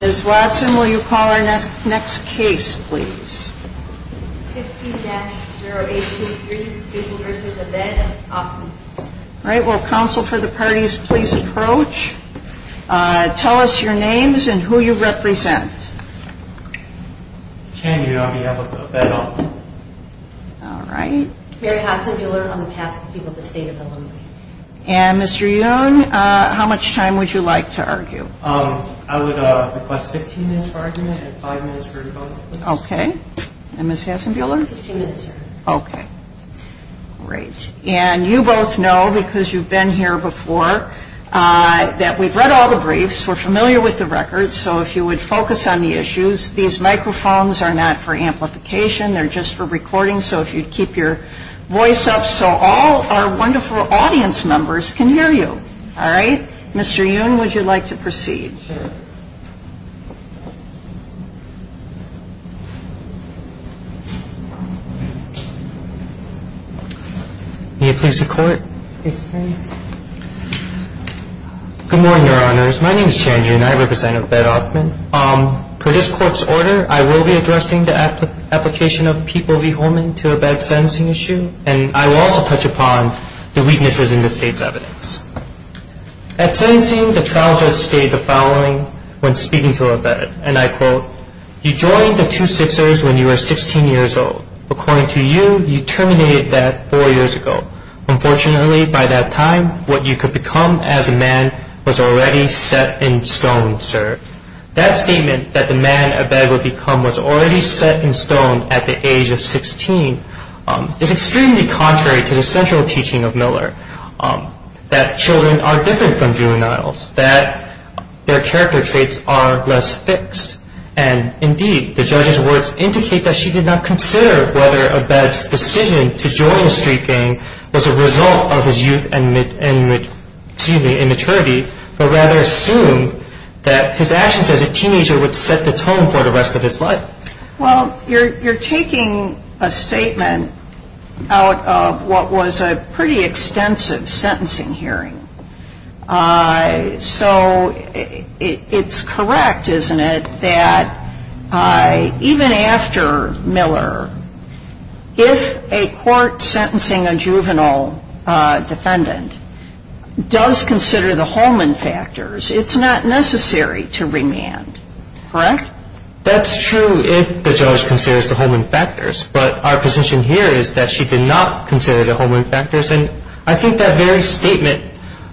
Ms. Watson, will you call our next case, please? 15-0823, Buehler v. Othman All right. Will counsel for the parties please approach? Tell us your names and who you represent. Chan Yuan, Buehler v. Othman All right. Mary Hodson, Buehler, on behalf of the people of the state of Illinois. And Mr. Yun, how much time would you like to argue? I would request 15 minutes for argument and five minutes for rebuttal, please. Okay. And Ms. Hasenbuehler? 15 minutes, sir. Okay. Great. And you both know, because you've been here before, that we've read all the briefs, we're familiar with the records, so if you would focus on the issues. These microphones are not for amplification, they're just for recording, so if you'd keep your voice up so all our wonderful audience members can hear you. All right. Mr. Yun, would you like to proceed? Sure. May it please the Court. Good morning, Your Honors. My name is Chan Yuan. I represent Othman. Per this Court's order, I will be addressing the application of people v. Holman to a bad sentencing issue, and I will also touch upon the weaknesses in the state's evidence. At sentencing, the trial judge stated the following when speaking to Abed, and I quote, you joined the two Sixers when you were 16 years old. According to you, you terminated that four years ago. Unfortunately, by that time, what you could become as a man was already set in stone, sir. That statement, that the man Abed would become was already set in stone at the age of 16, is extremely contrary to the central teaching of Miller, that children are different from juveniles, that their character traits are less fixed, and indeed, the judge's words indicate that she did not consider whether Abed's decision to join the street gang was a result of his youth and, excuse me, immaturity, but rather assumed that his actions as a teenager would set the tone for the rest of his life. Well, you're taking a statement out of what was a pretty extensive sentencing hearing. So it's correct, isn't it, that even after Miller, if a court sentencing a juvenile defendant does consider the Holman factors, it's not necessary to remand, correct? That's true if the judge considers the Holman factors, but our position here is that she did not consider the Holman factors, and I think that very statement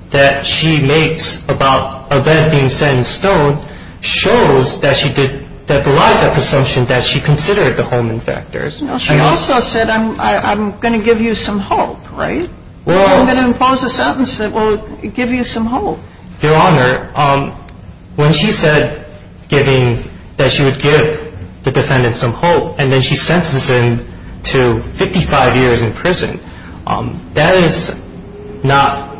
that she makes about Abed being set in stone shows that she did, that belies that presumption that she considered the Holman factors. She also said, I'm going to give you some hope, right? I'm going to impose a sentence that will give you some hope. Your Honor, when she said that she would give the defendant some hope, and then she sentences him to 55 years in prison, that is not,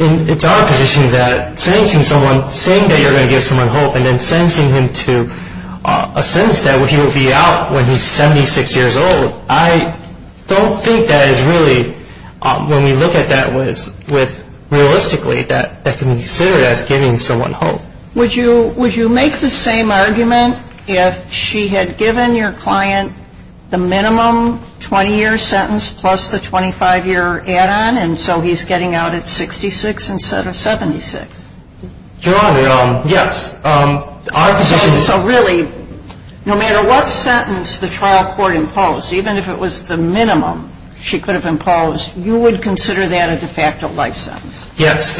it's our position that sentencing someone, saying that you're going to give someone hope, and then sentencing him to a sentence that he will be out when he's 76 years old, I don't think that is really, when we look at that realistically, that can be considered as giving someone hope. Would you make the same argument if she had given your client the minimum 20-year sentence plus the 25-year add-on, and so he's getting out at 66 instead of 76? Your Honor, yes. So really, no matter what sentence the trial court imposed, even if it was the minimum she could have imposed, you would consider that a de facto life sentence? Yes.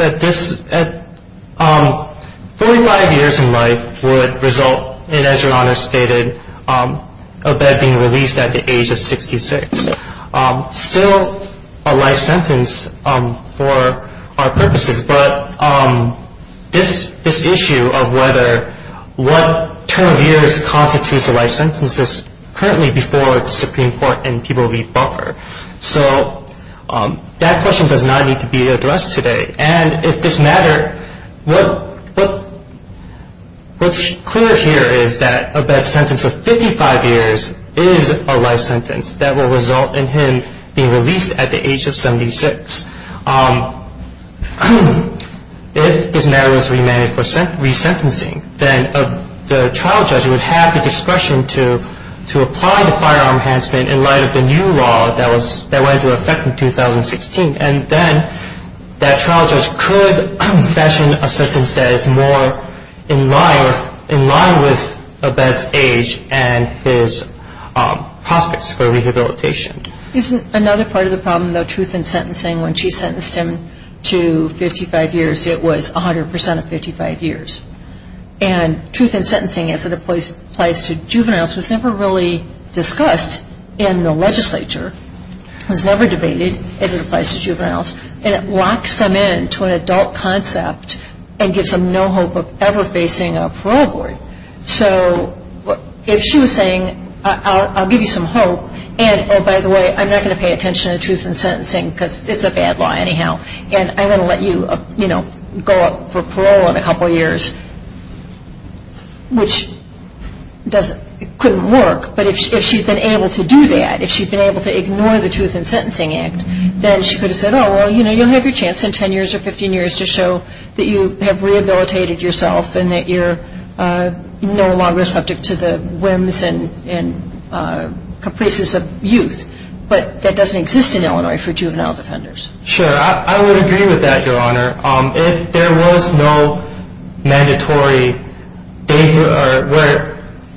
Forty-five years in life would result in, as Your Honor stated, a bed being released at the age of 66. Still a life sentence for our purposes, but this issue of what term of years constitutes a life sentence is currently before the Supreme Court and people leave buffer. So that question does not need to be addressed today, and if this matter, what's clear here is that a bed sentence of 55 years is a life sentence that will result in him being released at the age of 76. If this matter was remanded for resentencing, then the trial judge would have the discretion to apply the firearm enhancement in light of the new law that went into effect in 2016, and then that trial judge could fashion a sentence that is more in line with a bed's age and his prospects for rehabilitation. Isn't another part of the problem, though, truth in sentencing? When she sentenced him to 55 years, it was 100% of 55 years, and truth in sentencing as it applies to juveniles was never really discussed in the legislature. It was never debated as it applies to juveniles, and it locks them in to an adult concept and gives them no hope of ever facing a parole board. So if she was saying, I'll give you some hope, and, oh, by the way, I'm not going to pay attention to truth in sentencing because it's a bad law anyhow, and I'm going to let you go up for parole in a couple of years, which couldn't work, but if she's been able to do that, if she's been able to ignore the truth in sentencing act, then she could have said, oh, well, you know, you'll have your chance in 10 years or 15 years to show that you have rehabilitated yourself and that you're no longer subject to the whims and complacency of youth, but that doesn't exist in Illinois for juvenile defenders. Sure, I would agree with that, Your Honor. If there was no mandatory,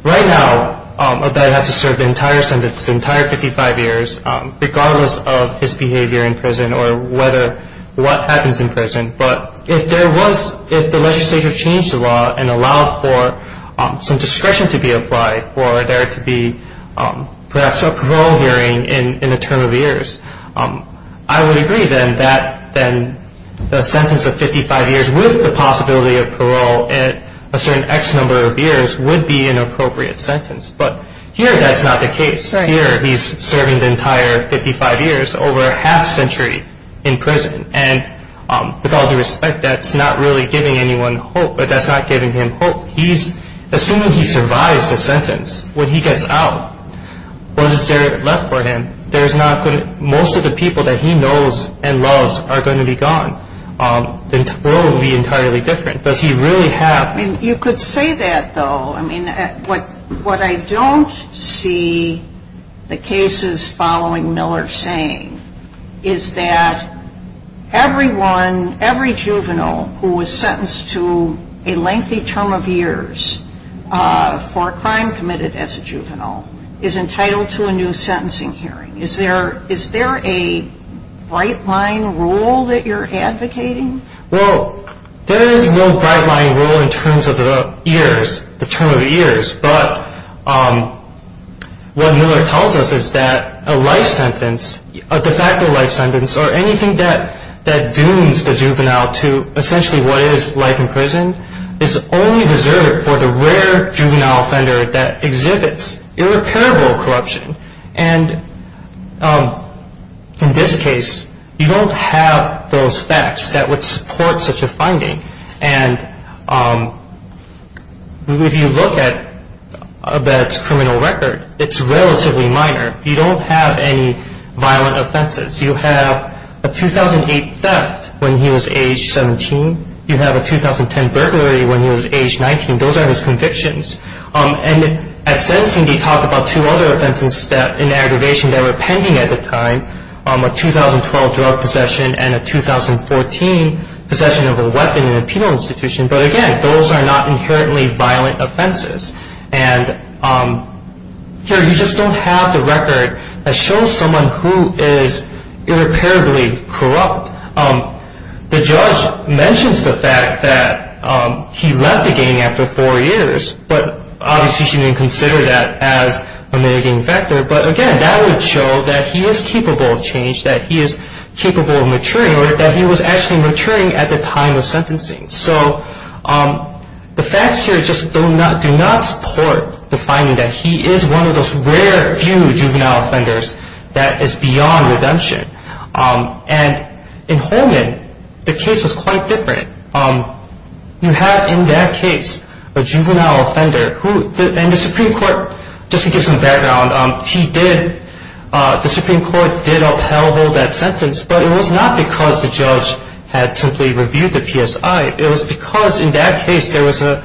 right now a guy would have to serve the entire sentence, the entire 55 years, regardless of his behavior in prison or what happens in prison, but if there was, if the legislature changed the law and allowed for some discretion to be applied for there to be perhaps a parole hearing in a term of years, I would agree then that the sentence of 55 years with the possibility of parole at a certain X number of years would be an appropriate sentence, but here that's not the case. Here he's serving the entire 55 years, over a half century in prison, and with all due respect, that's not really giving anyone hope. That's not giving him hope. Assuming he survives the sentence, when he gets out, what is there left for him? Most of the people that he knows and loves are going to be gone. The world would be entirely different. Does he really have... You could say that, though. What I don't see the cases following Miller saying is that everyone, every juvenile who was sentenced to a lengthy term of years for a crime committed as a juvenile is entitled to a new sentencing hearing. Is there a bright line rule that you're advocating? Well, there is no bright line rule in terms of the years, the term of years, but what Miller tells us is that a life sentence, a de facto life sentence, or anything that dooms the juvenile to essentially what is life in prison is only reserved for the rare juvenile offender that exhibits irreparable corruption. And in this case, you don't have those facts that would support such a finding. And if you look at that criminal record, it's relatively minor. You don't have any violent offenses. You have a 2008 theft when he was age 17. You have a 2010 burglary when he was age 19. Those are his convictions. And at sentencing they talk about two other offenses in aggravation that were pending at the time, a 2012 drug possession and a 2014 possession of a weapon in a penal institution. But, again, those are not inherently violent offenses. And here you just don't have the record that shows someone who is irreparably corrupt. The judge mentions the fact that he left the gang after four years, but obviously she didn't consider that as a mitigating factor. But, again, that would show that he is capable of change, that he is capable of maturing, or that he was actually maturing at the time of sentencing. So the facts here just do not support the finding that he is one of those rare few juvenile offenders that is beyond redemption. And in Holman, the case was quite different. You have in that case a juvenile offender. And the Supreme Court, just to give some background, the Supreme Court did upheld that sentence, but it was not because the judge had simply reviewed the PSI. It was because in that case there was an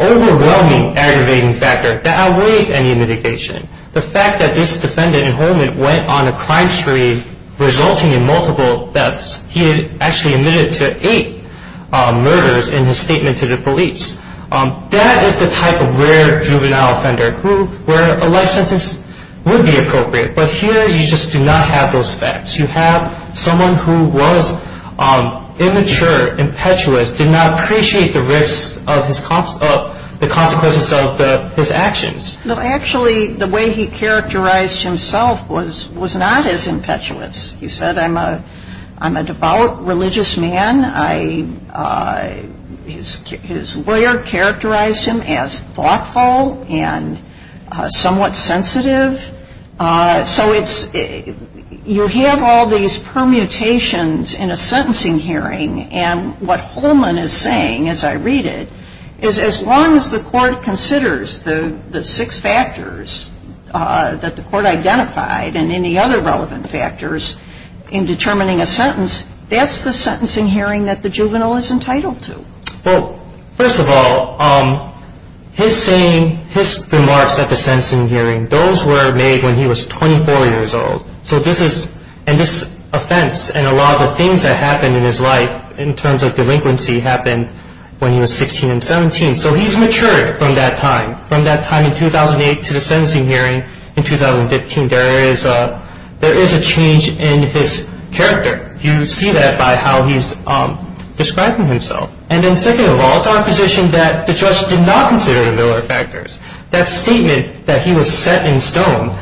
overwhelming aggravating factor that outweighed any mitigation. The fact that this defendant in Holman went on a crime spree resulting in multiple deaths, he had actually admitted to eight murders in his statement to the police, that is the type of rare juvenile offender where a life sentence would be appropriate. But here you just do not have those facts. You have someone who was immature, impetuous, did not appreciate the risks of the consequences of his actions. Well, actually, the way he characterized himself was not as impetuous. He said, I'm a devout religious man. His lawyer characterized him as thoughtful and somewhat sensitive. So you have all these permutations in a sentencing hearing. And what Holman is saying, as I read it, is as long as the court considers the six factors that the court identified and any other relevant factors in determining a sentence, that's the sentencing hearing that the juvenile is entitled to. Well, first of all, his saying, his remarks at the sentencing hearing, those were made when he was 24 years old. And this offense and a lot of the things that happened in his life in terms of delinquency happened when he was 16 and 17. So he's matured from that time, from that time in 2008 to the sentencing hearing in 2015. There is a change in his character. You see that by how he's describing himself. And then second of all, it's our position that the judge did not consider the other factors. That statement that he was set in stone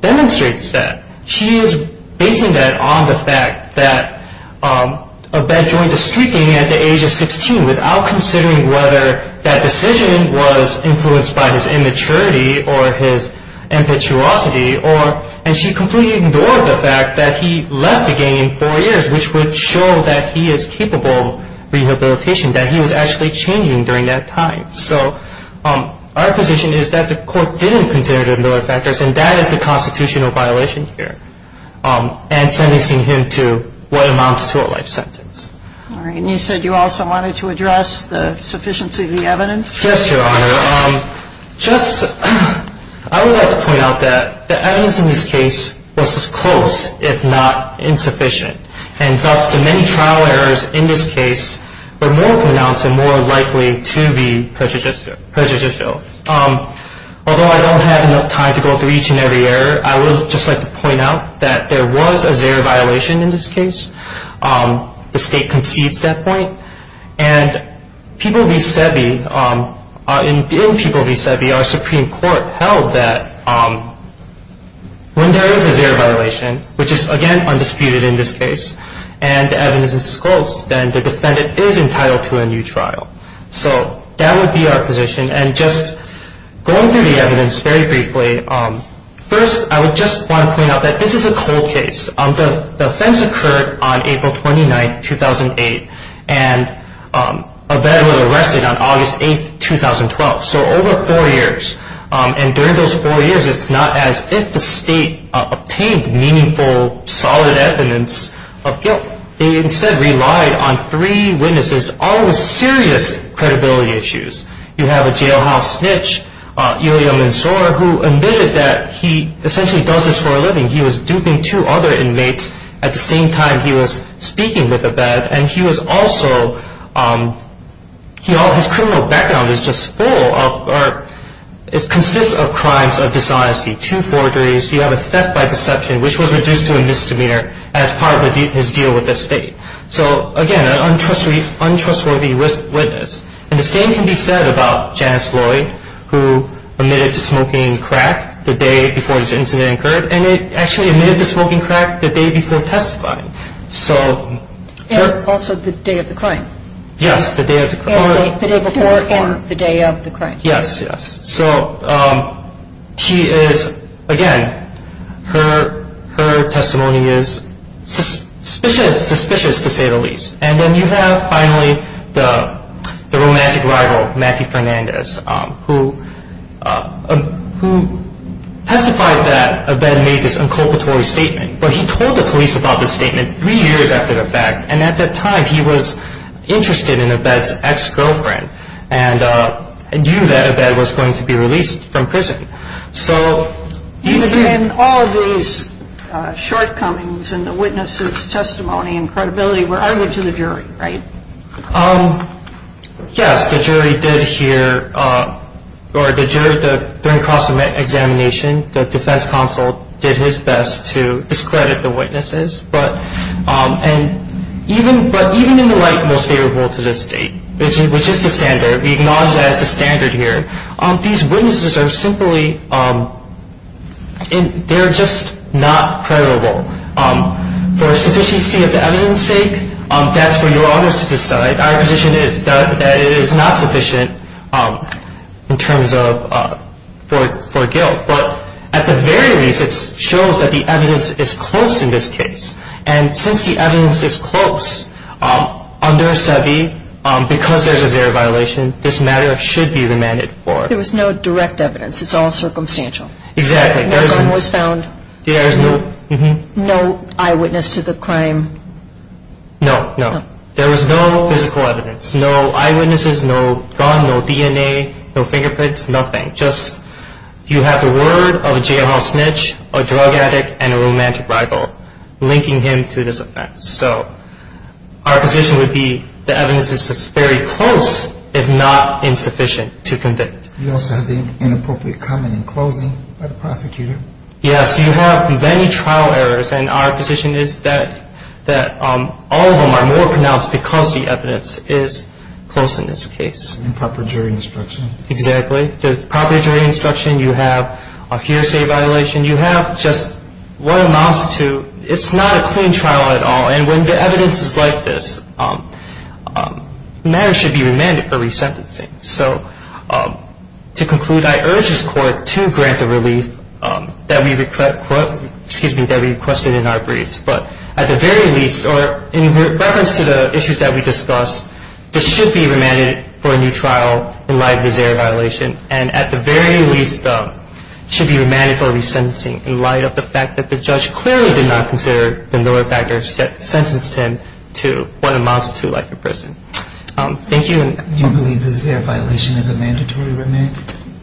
demonstrates that. She is basing that on the fact that a bad joint is streaking at the age of 16 without considering whether that decision was influenced by his immaturity or his impetuosity. And she completely ignored the fact that he left the gang in four years, which would show that he is capable of rehabilitation, that he was actually changing during that time. So our position is that the court didn't consider the other factors, and that is the constitutional violation here and sentencing him to what amounts to a life sentence. All right. And you said you also wanted to address the sufficiency of the evidence. Yes, Your Honor. Just I would like to point out that the evidence in this case was as close, if not insufficient. And thus the many trial errors in this case were more pronounced and more likely to be prejudicial. Although I don't have enough time to go through each and every error, I would just like to point out that there was a zero violation in this case. The state concedes that point. And people v. Sebi, in people v. Sebi, our Supreme Court held that when there is a zero violation, which is, again, undisputed in this case, and the evidence is as close, then the defendant is entitled to a new trial. So that would be our position. And just going through the evidence very briefly, first I would just want to point out that this is a cold case. The offense occurred on April 29, 2008, and a veteran was arrested on August 8, 2012. So over four years. And during those four years, it's not as if the state obtained meaningful, solid evidence of guilt. They instead relied on three witnesses, all with serious credibility issues. You have a jailhouse snitch, Ilya Mansour, who admitted that he essentially does this for a living. He was duping two other inmates at the same time he was speaking with a bed. And he was also, his criminal background is just full of, consists of crimes of dishonesty. Two forgeries. You have a theft by deception, which was reduced to a misdemeanor as part of his deal with the state. So, again, an untrustworthy witness. And the same can be said about Janice Lloyd, who admitted to smoking crack the day before this incident occurred. And actually admitted to smoking crack the day before testifying. And also the day of the crime. Yes, the day of the crime. The day before and the day of the crime. Yes, yes. So she is, again, her testimony is suspicious, suspicious to say the least. And then you have, finally, the romantic rival, Matthew Fernandez, who testified that a bed made this inculpatory statement. But he told the police about this statement three years after the fact. And at that time, he was interested in a bed's ex-girlfriend and knew that a bed was going to be released from prison. So, again, all of these shortcomings in the witness's testimony and credibility were argued to the jury, right? Yes. The jury did hear, or the jury, during cross-examination, the defense counsel did his best to discredit the witnesses. But even in the light most favorable to the state, which is the standard, we acknowledge that as the standard here, these witnesses are simply, they're just not credible. For sufficiency of the evidence sake, that's for you or others to decide. Our position is that it is not sufficient in terms of, for guilt. But at the very least, it shows that the evidence is close in this case. And since the evidence is close, under SEBI, because there's a zero violation, this matter should be remanded for. There was no direct evidence. It's all circumstantial. Exactly. No gun was found. There is no. No eyewitness to the crime. No, no. There was no physical evidence. No eyewitnesses, no gun, no DNA, no fingerprints, nothing. You have the word of a jailhouse snitch, a drug addict, and a romantic rival linking him to this offense. So our position would be the evidence is very close, if not insufficient to convict. You also have the inappropriate comment in closing by the prosecutor. Yes. You have many trial errors. And our position is that all of them are more pronounced because the evidence is close in this case. And proper jury instruction. Exactly. The proper jury instruction, you have a hearsay violation. You have just what amounts to it's not a clean trial at all. And when the evidence is like this, matters should be remanded for resentencing. So to conclude, I urge this Court to grant the relief that we requested in our briefs. In reference to the issues that we discussed, there should be remanded for a new trial in light of the Zair violation. At the very least, should be remanded for resentencing in light of the fact that the judge clearly did not consider the mild factors that sentenced him to what amounts to life in prison. Thank you. Do you believe the Zair violation is a mandatory remand?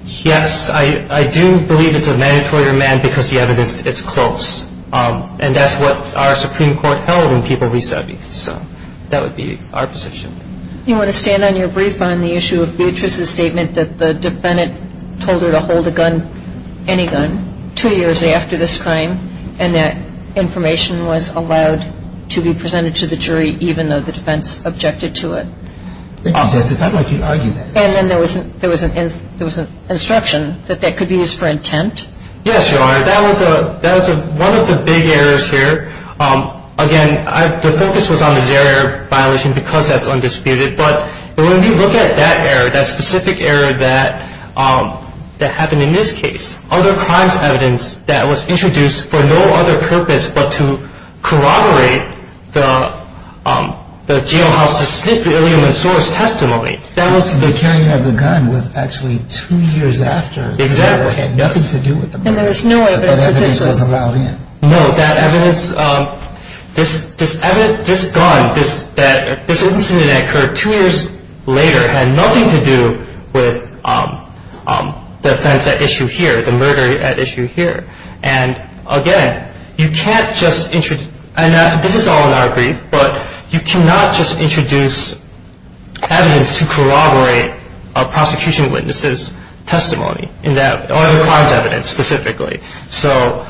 Yes, I do believe it's a mandatory remand because the evidence is close. And that's what our Supreme Court held when people resubbied. So that would be our position. Do you want to stand on your brief on the issue of Beatrice's statement that the defendant told her to hold a gun, any gun, two years after this crime and that information was allowed to be presented to the jury, even though the defense objected to it? Thank you, Justice. I'd like you to argue that. And then there was an instruction that that could be used for intent? Yes, Your Honor. That was one of the big errors here. Again, the focus was on the Zair violation because that's undisputed. But when you look at that error, that specific error that happened in this case, other crimes evidence that was introduced for no other purpose but to corroborate the jailhouse's history of human source testimony. That was the carrying of the gun was actually two years after. Exactly. It had nothing to do with the murder. And there was no evidence that this was allowed in. No, that evidence, this gun, this incident that occurred two years later had nothing to do with the offense at issue here, the murder at issue here. And again, you can't just introduce, and this is all in our brief, but you cannot just introduce evidence to corroborate a prosecution witness's testimony in that, or other crimes evidence specifically. So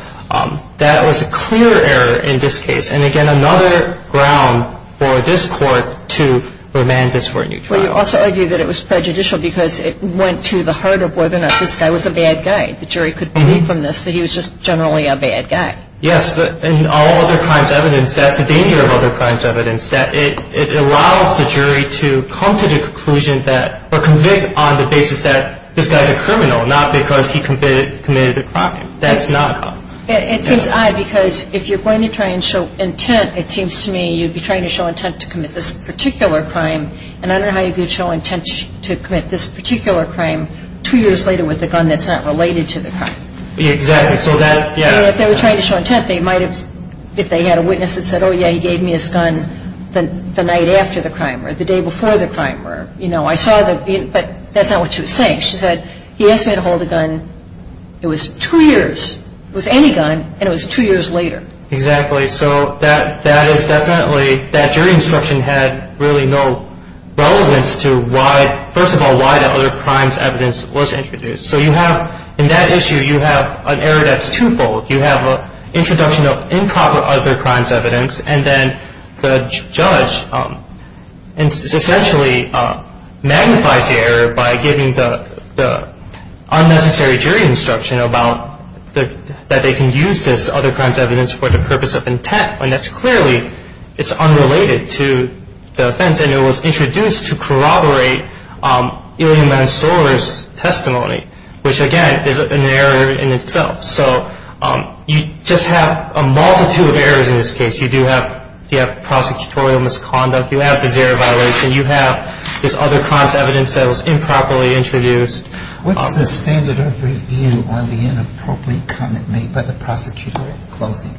that was a clear error in this case. And again, another ground for this Court to remand this for a new trial. Well, you also argue that it was prejudicial because it went to the heart of whether or not this guy was a bad guy. The jury could believe from this that he was just generally a bad guy. Yes, but in all other crimes evidence, that's the danger of other crimes evidence, that it allows the jury to come to the conclusion that, or convict on the basis that this guy's a criminal, not because he committed a crime. That's not how. It seems odd because if you're going to try and show intent, it seems to me, you'd be trying to show intent to commit this particular crime. And I don't know how you could show intent to commit this particular crime two years later with a gun that's not related to the crime. Exactly. So that, yeah. If they were trying to show intent, they might have, if they had a witness that said, oh, yeah, he gave me his gun the night after the crime or the day before the crime, or, you know, I saw the, but that's not what she was saying. She said, he asked me to hold a gun. It was two years. It was any gun, and it was two years later. Exactly. So that is definitely, that jury instruction had really no relevance to why, first of all, why the other crimes evidence was introduced. So you have, in that issue, you have an error that's twofold. You have an introduction of improper other crimes evidence, and then the judge essentially magnifies the error by giving the unnecessary jury instruction about that they can use this other crimes evidence for the purpose of intent. And that's clearly, it's unrelated to the offense, and it was introduced to corroborate Ilya Mansoor's testimony, which, again, is an error in itself. So you just have a multitude of errors in this case. You do have prosecutorial misconduct. You have the zero violation. You have this other crimes evidence that was improperly introduced. What's the standard of review on the inappropriate comment made by the prosecutor in closing?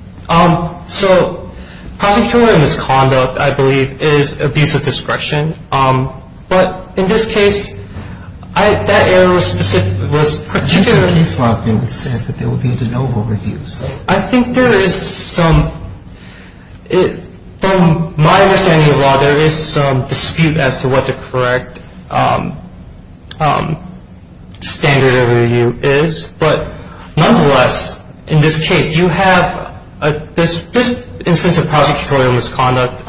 So prosecutorial misconduct, I believe, is abuse of discretion. But in this case, that error was particular. The case law says that there will be a de novo review. I think there is some, from my understanding of law, there is some dispute as to what the correct standard of review is. But nonetheless, in this case, you have this instance of prosecutorial misconduct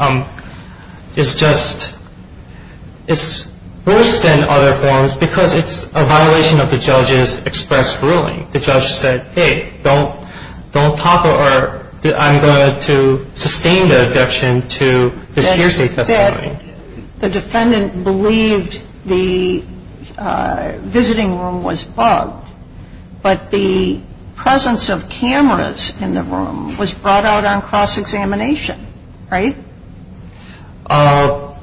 is just, it's worse than other forms because it's a violation of the judge's express ruling. The judge said, hey, don't topple or I'm going to sustain the objection to this hearsay testimony. The defendant believed the visiting room was bugged, but the presence of cameras in the room was brought out on cross-examination. Right? Well,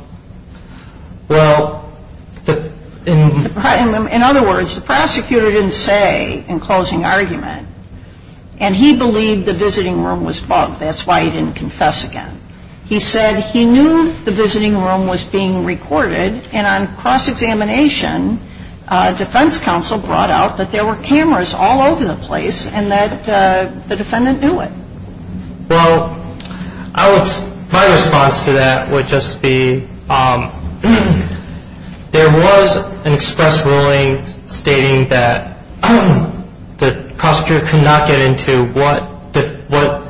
in other words, the prosecutor didn't say in closing argument, and he believed the visiting room was bugged. That's why he didn't confess again. He said he knew the visiting room was being recorded, and on cross-examination, defense counsel brought out that there were cameras all over the place and that the defendant knew it. Well, my response to that would just be, there was an express ruling stating that the prosecutor could not get into what the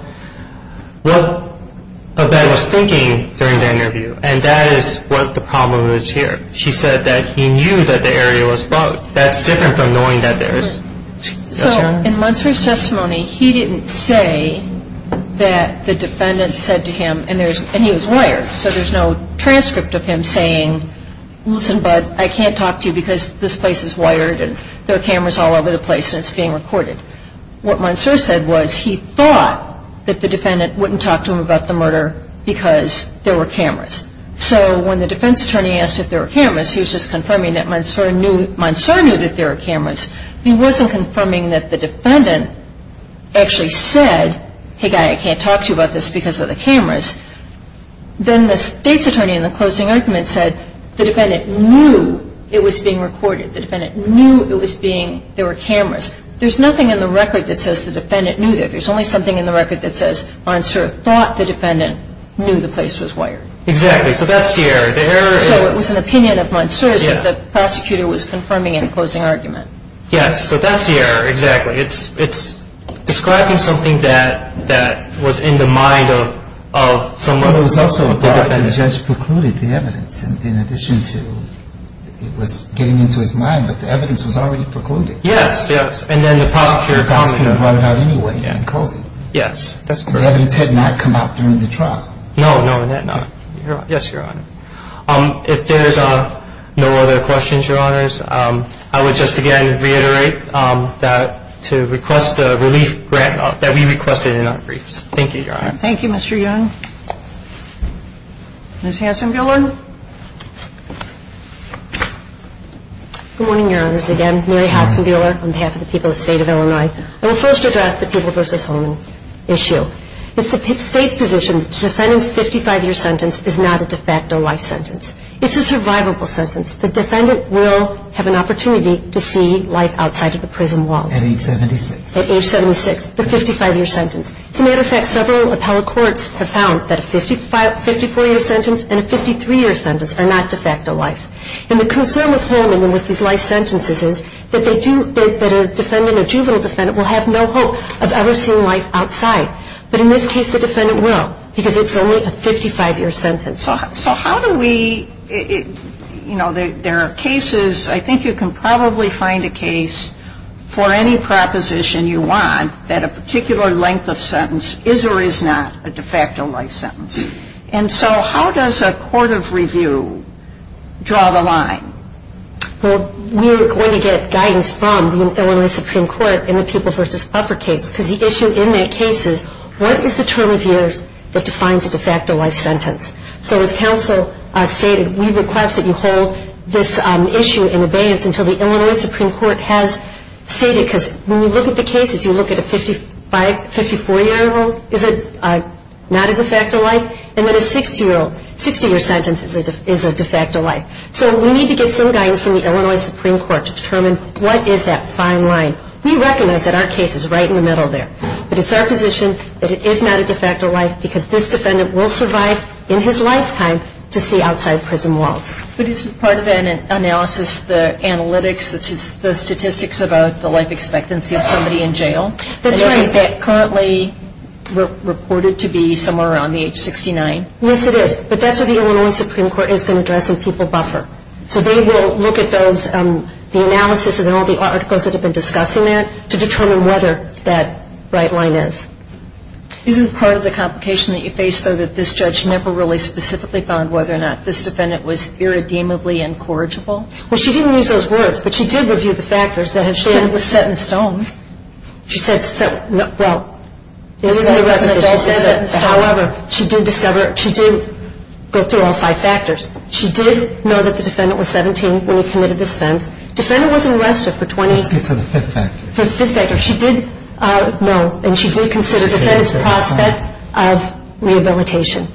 defendant was thinking during the interview, and that is what the problem is here. She said that he knew that the area was bugged. That's different from knowing that there is. Yes, Your Honor? So in Munser's testimony, he didn't say that the defendant said to him, and he was wired, so there's no transcript of him saying, listen, bud, I can't talk to you because this place is wired and there are cameras all over the place and it's being recorded. What Munser said was he thought that the defendant wouldn't talk to him about the murder because there were cameras. So when the defense attorney asked if there were cameras, he was just confirming that Munser knew that there were cameras. He wasn't confirming that the defendant actually said, hey, guy, I can't talk to you about this because of the cameras. Then the state's attorney in the closing argument said the defendant knew it was being recorded. The defendant knew there were cameras. There's nothing in the record that says the defendant knew that. There's only something in the record that says Munser thought the defendant knew the place was wired. Exactly. So that's the error. So it was an opinion of Munser's that the prosecutor was confirming in the closing argument. Yes. So that's the error. Exactly. It's describing something that was in the mind of someone. Well, it was also that the judge precluded the evidence in addition to it was getting into his mind, but the evidence was already precluded. Yes, yes. And then the prosecutor commented. The prosecutor voted out anyway in closing. Yes, that's correct. The evidence had not come out during the trial. No, no, it had not. Yes, Your Honor. If there's no other questions, Your Honors, I would just again reiterate that to request a relief grant, that we requested in our briefs. Thank you, Your Honor. Ms. Hanson-Gillard. Good morning, Your Honors. Again, Mary Hanson-Gillard on behalf of the people of the State of Illinois. I will first address the People v. Holman issue. It's the State's position that the defendant's 55-year sentence is not a de facto life sentence. It's a survivable sentence. The defendant will have an opportunity to see life outside of the prison walls. At age 76. At age 76. The 55-year sentence. As a matter of fact, several appellate courts have found that a 54-year sentence and a 53-year sentence are not de facto life. And the concern with Holman and with these life sentences is that they do, that a defendant, a juvenile defendant, will have no hope of ever seeing life outside. But in this case, the defendant will. Because it's only a 55-year sentence. So how do we, you know, there are cases, I think you can probably find a case for any proposition you want that a particular length of sentence is or is not a de facto life sentence. And so how does a court of review draw the line? Well, we're going to get guidance from the Illinois Supreme Court in the People v. Buffer case. Because the issue in that case is, what is the term of years that defines a de facto life sentence? So as counsel stated, we request that you hold this issue in abeyance until the Illinois Supreme Court has stated. Because when you look at the cases, you look at a 54-year old, is it not a de facto life? And then a 60-year sentence is a de facto life. So we need to get some guidance from the Illinois Supreme Court to determine what is that fine line. We recognize that our case is right in the middle there. But it's our position that it is not a de facto life because this defendant will survive in his lifetime to see outside prison walls. But isn't part of that analysis the analytics, the statistics about the life expectancy of somebody in jail? That's right. And isn't that currently reported to be somewhere around the age 69? Yes, it is. But that's what the Illinois Supreme Court is going to address in People v. Buffer. So they will look at the analysis and all the articles that have been discussing that to determine whether that right line is. Isn't part of the complication that you face, though, that this judge never really specifically found whether or not this defendant was irredeemably incorrigible? Well, she didn't use those words, but she did review the factors that have shown it was set in stone. She said, well, it was set in stone. However, she did discover, she did go through all five factors. She did know that the defendant was 17 when he committed this offense. Defendant was arrested for 20... Let's get to the fifth factor. The fifth factor. No, and she did consider the defense prospect of rehabilitation.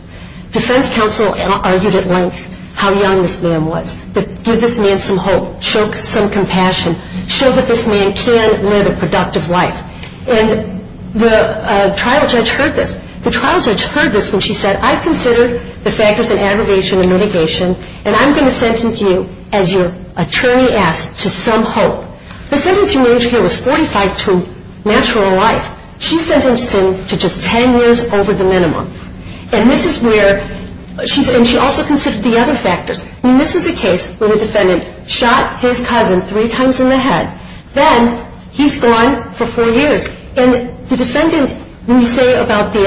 Defense counsel argued at length how young this man was. Give this man some hope. Show some compassion. Show that this man can live a productive life. And the trial judge heard this. The trial judge heard this when she said, I've considered the factors of aggravation and mitigation, and I'm going to sentence you, as your attorney asks, to some hope. The sentence you need here was 45 to natural life. She sentenced him to just 10 years over the minimum. And this is where she also considered the other factors. I mean, this was a case where the defendant shot his cousin three times in the head. Then he's gone for four years. And the defendant, when you say about the,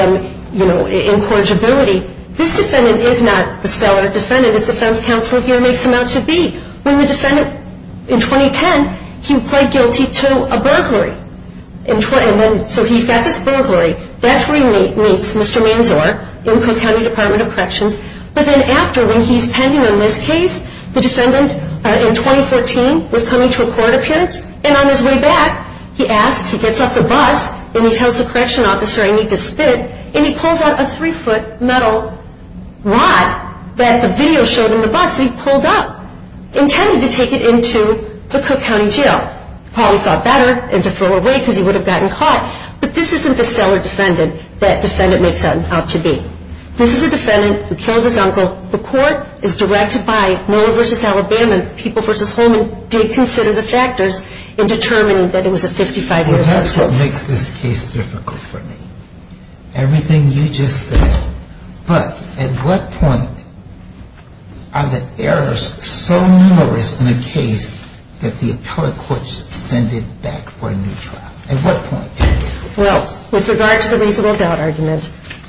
you know, incorrigibility, this defendant is not the stellar defendant. His defense counsel here makes him out to be. When the defendant, in 2010, he pled guilty to a burglary. So he's got this burglary. That's where he meets Mr. Manzor in Cook County Department of Corrections. But then after, when he's pending on this case, the defendant in 2014 was coming to a court appearance. And on his way back, he asks, he gets off the bus, and he tells the correction officer, I need to spit. And he pulls out a three-foot metal rod that the video showed in the bus, and he actually pulled up, intended to take it into the Cook County jail. Probably thought better to throw away because he would have gotten caught. But this isn't the stellar defendant that the defendant makes out to be. This is a defendant who killed his uncle. The court is directed by Mueller v. Alabama, and People v. Holman did consider the factors in determining that it was a 55-year sentence. Well, that's what makes this case difficult for me. Everything you just said. But at what point are the errors so numerous in a case that the appellate courts send it back for a new trial? At what point? Well, with regard to the reasonable doubt argument,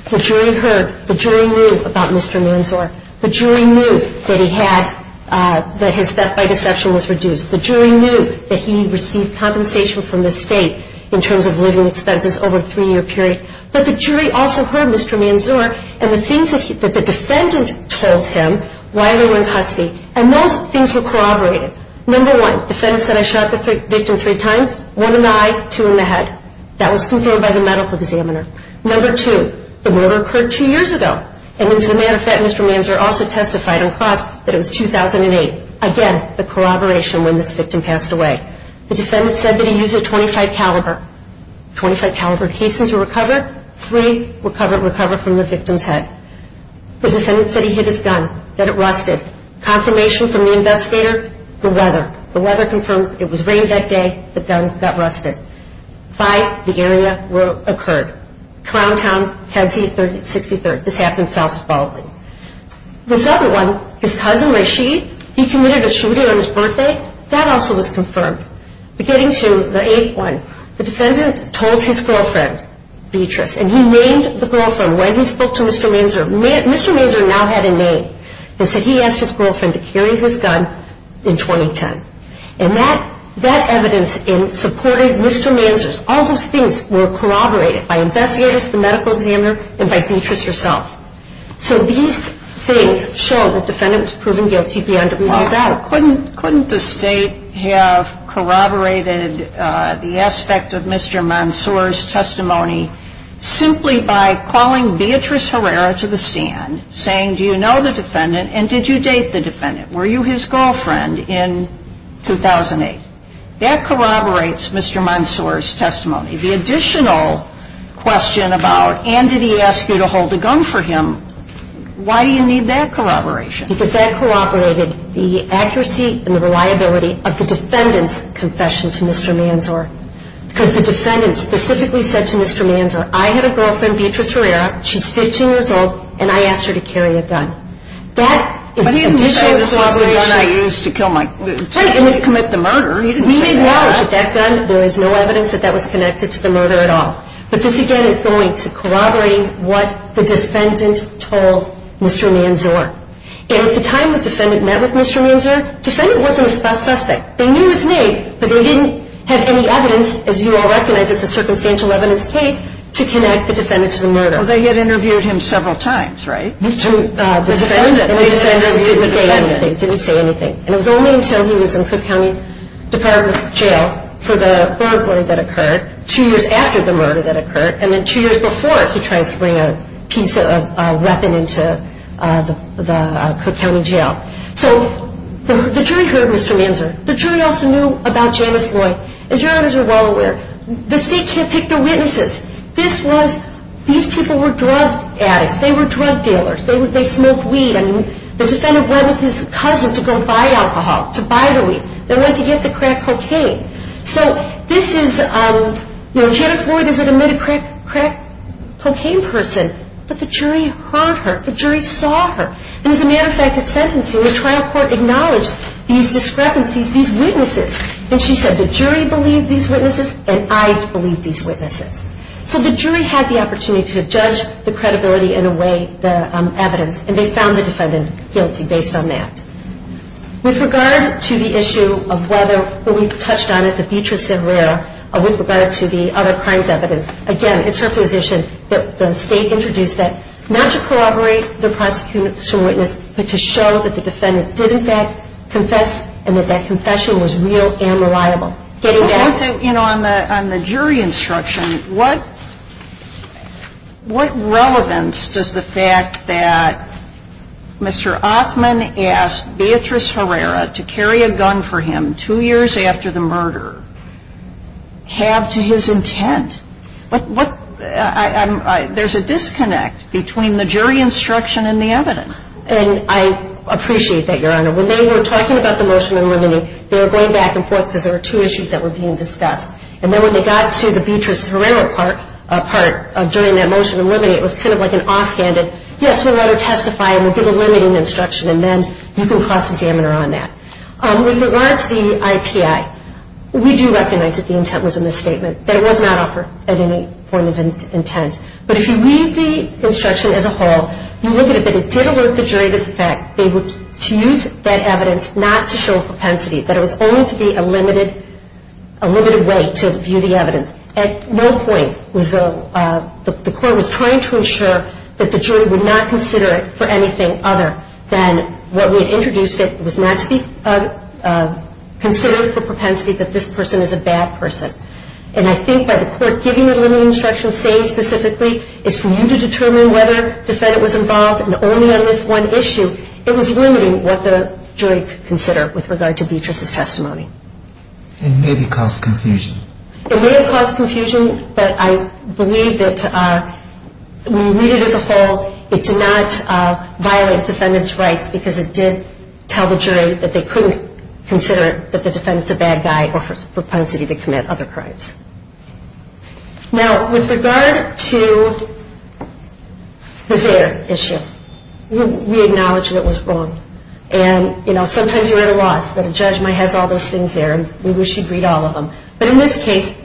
the jury heard, the jury knew about Mr. Manzor. The jury knew that he had, that his death by deception was reduced. The jury knew that he received compensation from the state in terms of living expenses over a three-year period. But the jury also heard Mr. Manzor and the things that the defendant told him while they were in custody, and those things were corroborated. Number one, the defendant said, I shot the victim three times, one in the eye, two in the head. That was confirmed by the medical examiner. Number two, the murder occurred two years ago, and as a matter of fact, Mr. Manzor also testified on cross that it was 2008. Again, the corroboration when this victim passed away. The defendant said that he used a .25 caliber. .25 caliber cases were recovered. Three were recovered from the victim's head. The defendant said he hid his gun, that it rusted. Confirmation from the investigator, the weather. The weather confirmed it was rain that day, the gun got rusted. Five, the area where it occurred. Crowntown, Kedzie 63rd. This happened in South Spaulding. This other one, his cousin Rashid, he committed a shooter on his birthday. That also was confirmed. Getting to the eighth one. The defendant told his girlfriend, Beatrice, and he named the girlfriend when he spoke to Mr. Manzor. Mr. Manzor now had a name. He said he asked his girlfriend to carry his gun in 2010. And that evidence supported Mr. Manzor's. All those things were corroborated by investigators, the medical examiner, and by Beatrice herself. So these things show that the defendant was proven guilty beyond a reasonable doubt. Now, couldn't the State have corroborated the aspect of Mr. Manzor's testimony simply by calling Beatrice Herrera to the stand, saying, do you know the defendant and did you date the defendant? Were you his girlfriend in 2008? That corroborates Mr. Manzor's testimony. The additional question about, and did he ask you to hold the gun for him, why do you need that corroboration? Because that corroborated the accuracy and the reliability of the defendant's confession to Mr. Manzor. Because the defendant specifically said to Mr. Manzor, I had a girlfriend, Beatrice Herrera, she's 15 years old, and I asked her to carry a gun. That is additional corroboration. But he didn't say this was the gun I used to commit the murder. He didn't say that. We acknowledge that gun. There is no evidence that that was connected to the murder at all. But this, again, is going to corroborate what the defendant told Mr. Manzor. And at the time the defendant met with Mr. Manzor, defendant wasn't a suspect. They knew it was me, but they didn't have any evidence, as you all recognize, it's a circumstantial evidence case, to connect the defendant to the murder. Well, they had interviewed him several times, right? To the defendant. And the defendant didn't say anything. Didn't say anything. And it was only until he was in Cook County Department of Jail for the burglary that occurred, two years after the murder that occurred, and then two years before he tries to bring a piece of weapon into the Cook County Jail. So the jury heard Mr. Manzor. The jury also knew about Janice Lloyd. As you all are well aware, the state can't pick the witnesses. This was, these people were drug addicts. They were drug dealers. They smoked weed. And the defendant went with his cousin to go buy alcohol, to buy the weed. They went to get the crack cocaine. So this is, you know, Janice Lloyd is an admitted crack cocaine person, but the jury heard her. The jury saw her. And as a matter of fact, at sentencing, the trial court acknowledged these discrepancies, these witnesses. And she said, the jury believed these witnesses, and I believed these witnesses. So the jury had the opportunity to judge the credibility in a way, the evidence, and they found the defendant guilty based on that. With regard to the issue of whether, when we touched on it, the Beatrice of Rare, with regard to the other crimes evidence, again, it's her position that the state introduced that, not to corroborate the prosecution witness, but to show that the defendant did in fact confess and that that confession was real and reliable. On the jury instruction, what relevance does the fact that Mr. Othman asked Beatrice Herrera to carry a gun for him two years after the murder have to his intent? There's a disconnect between the jury instruction and the evidence. And I appreciate that, Your Honor. When they were talking about the motion eliminating, they were going back and forth because there were two issues that were being discussed. And then when they got to the Beatrice Herrera part during that motion eliminating, it was kind of like an offhanded, yes, we'll let her testify and we'll give a limiting instruction, and then you can cross-examine her on that. With regard to the IPI, we do recognize that the intent was a misstatement, that it was not offered at any point of intent. But if you read the instruction as a whole, you look at it, but it did alert the jury to the fact that they were to use that evidence not to show propensity, that it was only to be a limited way to view the evidence. At no point was the court trying to ensure that the jury would not consider it for anything other than what we had introduced it was not to be considered for propensity that this person is a bad person. And I think by the court giving a limiting instruction saying specifically, it's for you to determine whether a defendant was involved and only on this one issue, it was limiting what the jury could consider with regard to Beatrice's testimony. It may have caused confusion. It may have caused confusion, but I believe that when you read it as a whole, it did not violate defendant's rights because it did tell the jury that they couldn't consider that the defendant's a bad guy or propensity to commit other crimes. Now, with regard to the Zaire issue, we acknowledge that it was wrong. And, you know, sometimes you write a loss, but a judgment has all those things there and we wish you'd read all of them. But in this case,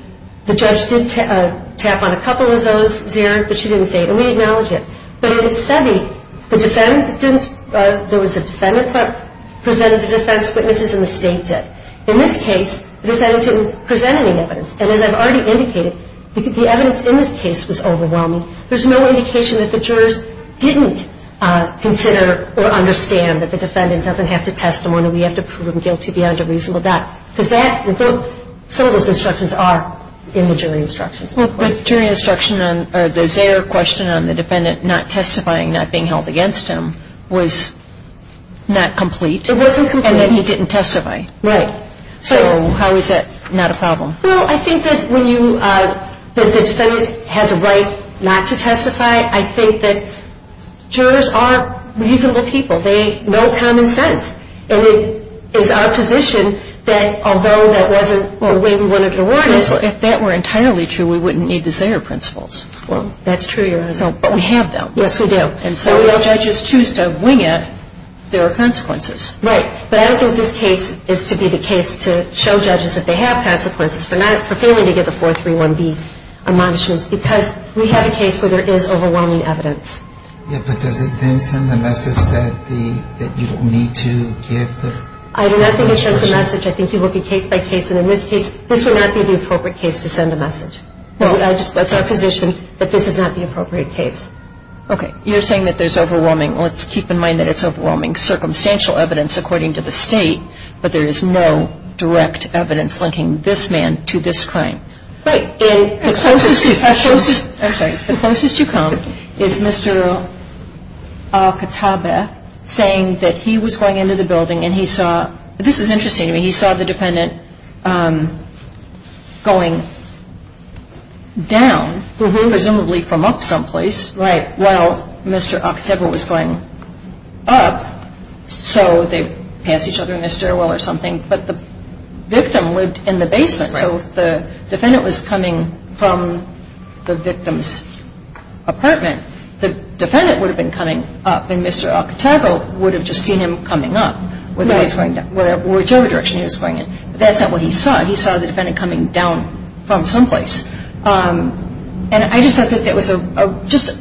the judge did tap on a couple of those, Zaire, but she didn't say it. And we acknowledge it. But in Sebi, the defendant didn't, there was a defendant that presented a defense, witnesses in the state did. In this case, the defendant didn't present any evidence. And as I've already indicated, the evidence in this case was overwhelming. There's no indication that the jurors didn't consider or understand that the defendant doesn't have to testify and we have to prove him guilty beyond a reasonable doubt. Because that, some of those instructions are in the jury instructions. But the jury instruction on, or the Zaire question on the defendant not testifying, not being held against him, was not complete. It wasn't complete. And then he didn't testify. Right. So how is that not a problem? Well, I think that when you, that the defendant has a right not to testify, I think that jurors are reasonable people. They know common sense. And it is our position that although that wasn't the way we wanted it to work, if that were entirely true, we wouldn't need the Zaire principles. Well, that's true, Your Honor. But we have them. Yes, we do. And so if judges choose to wing it, there are consequences. Right. But I don't think this case is to be the case to show judges that they have consequences for not, for failing to give the 431B admonishments. Because we have a case where there is overwhelming evidence. Yeah, but does it then send the message that you don't need to give the jurors? I do not think it sends a message. I think you look at case by case. And in this case, this would not be the appropriate case to send a message. Well, I just, that's our position that this is not the appropriate case. Okay. You're saying that there's overwhelming. Well, let's keep in mind that it's overwhelming circumstantial evidence according to the State, but there is no direct evidence linking this man to this crime. Right. And the closest you come is Mr. Al-Kataba saying that he was going into the building and he saw, this is interesting to me, he saw the defendant going down, presumably from up someplace. Right. While Mr. Al-Kataba was going up, so they passed each other in the stairwell or something. But the victim lived in the basement. Right. So if the defendant was coming from the victim's apartment, the defendant would have been coming up and Mr. Al-Kataba would have just seen him coming up. Right. Whichever direction he was going in. But that's not what he saw. He saw the defendant coming down from someplace. And I just thought that that was just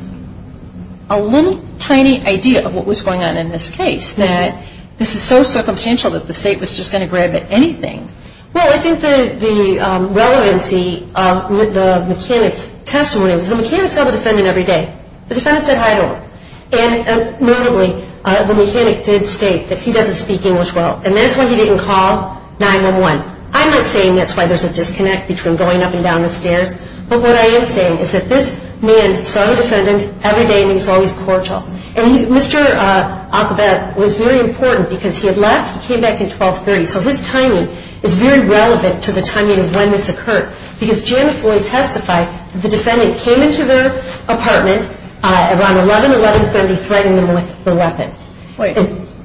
a little tiny idea of what was going on in this case. That this is so circumstantial that the State was just going to grab at anything. Well, I think the relevancy of the mechanic's testimony was the mechanic saw the defendant every day. The defendant said hi to him. And notably, the mechanic did state that he doesn't speak English well. And that's why he didn't call 911. I'm not saying that's why there's a disconnect between going up and down the stairs. But what I am saying is that this man saw the defendant every day and he was always cordial. And Mr. Al-Kataba was very important because he had left, he came back at 1230. So his timing is very relevant to the timing of when this occurred. Because Janice Floyd testified that the defendant came into their apartment around 11, 1130, threatening them with the weapon. Wait.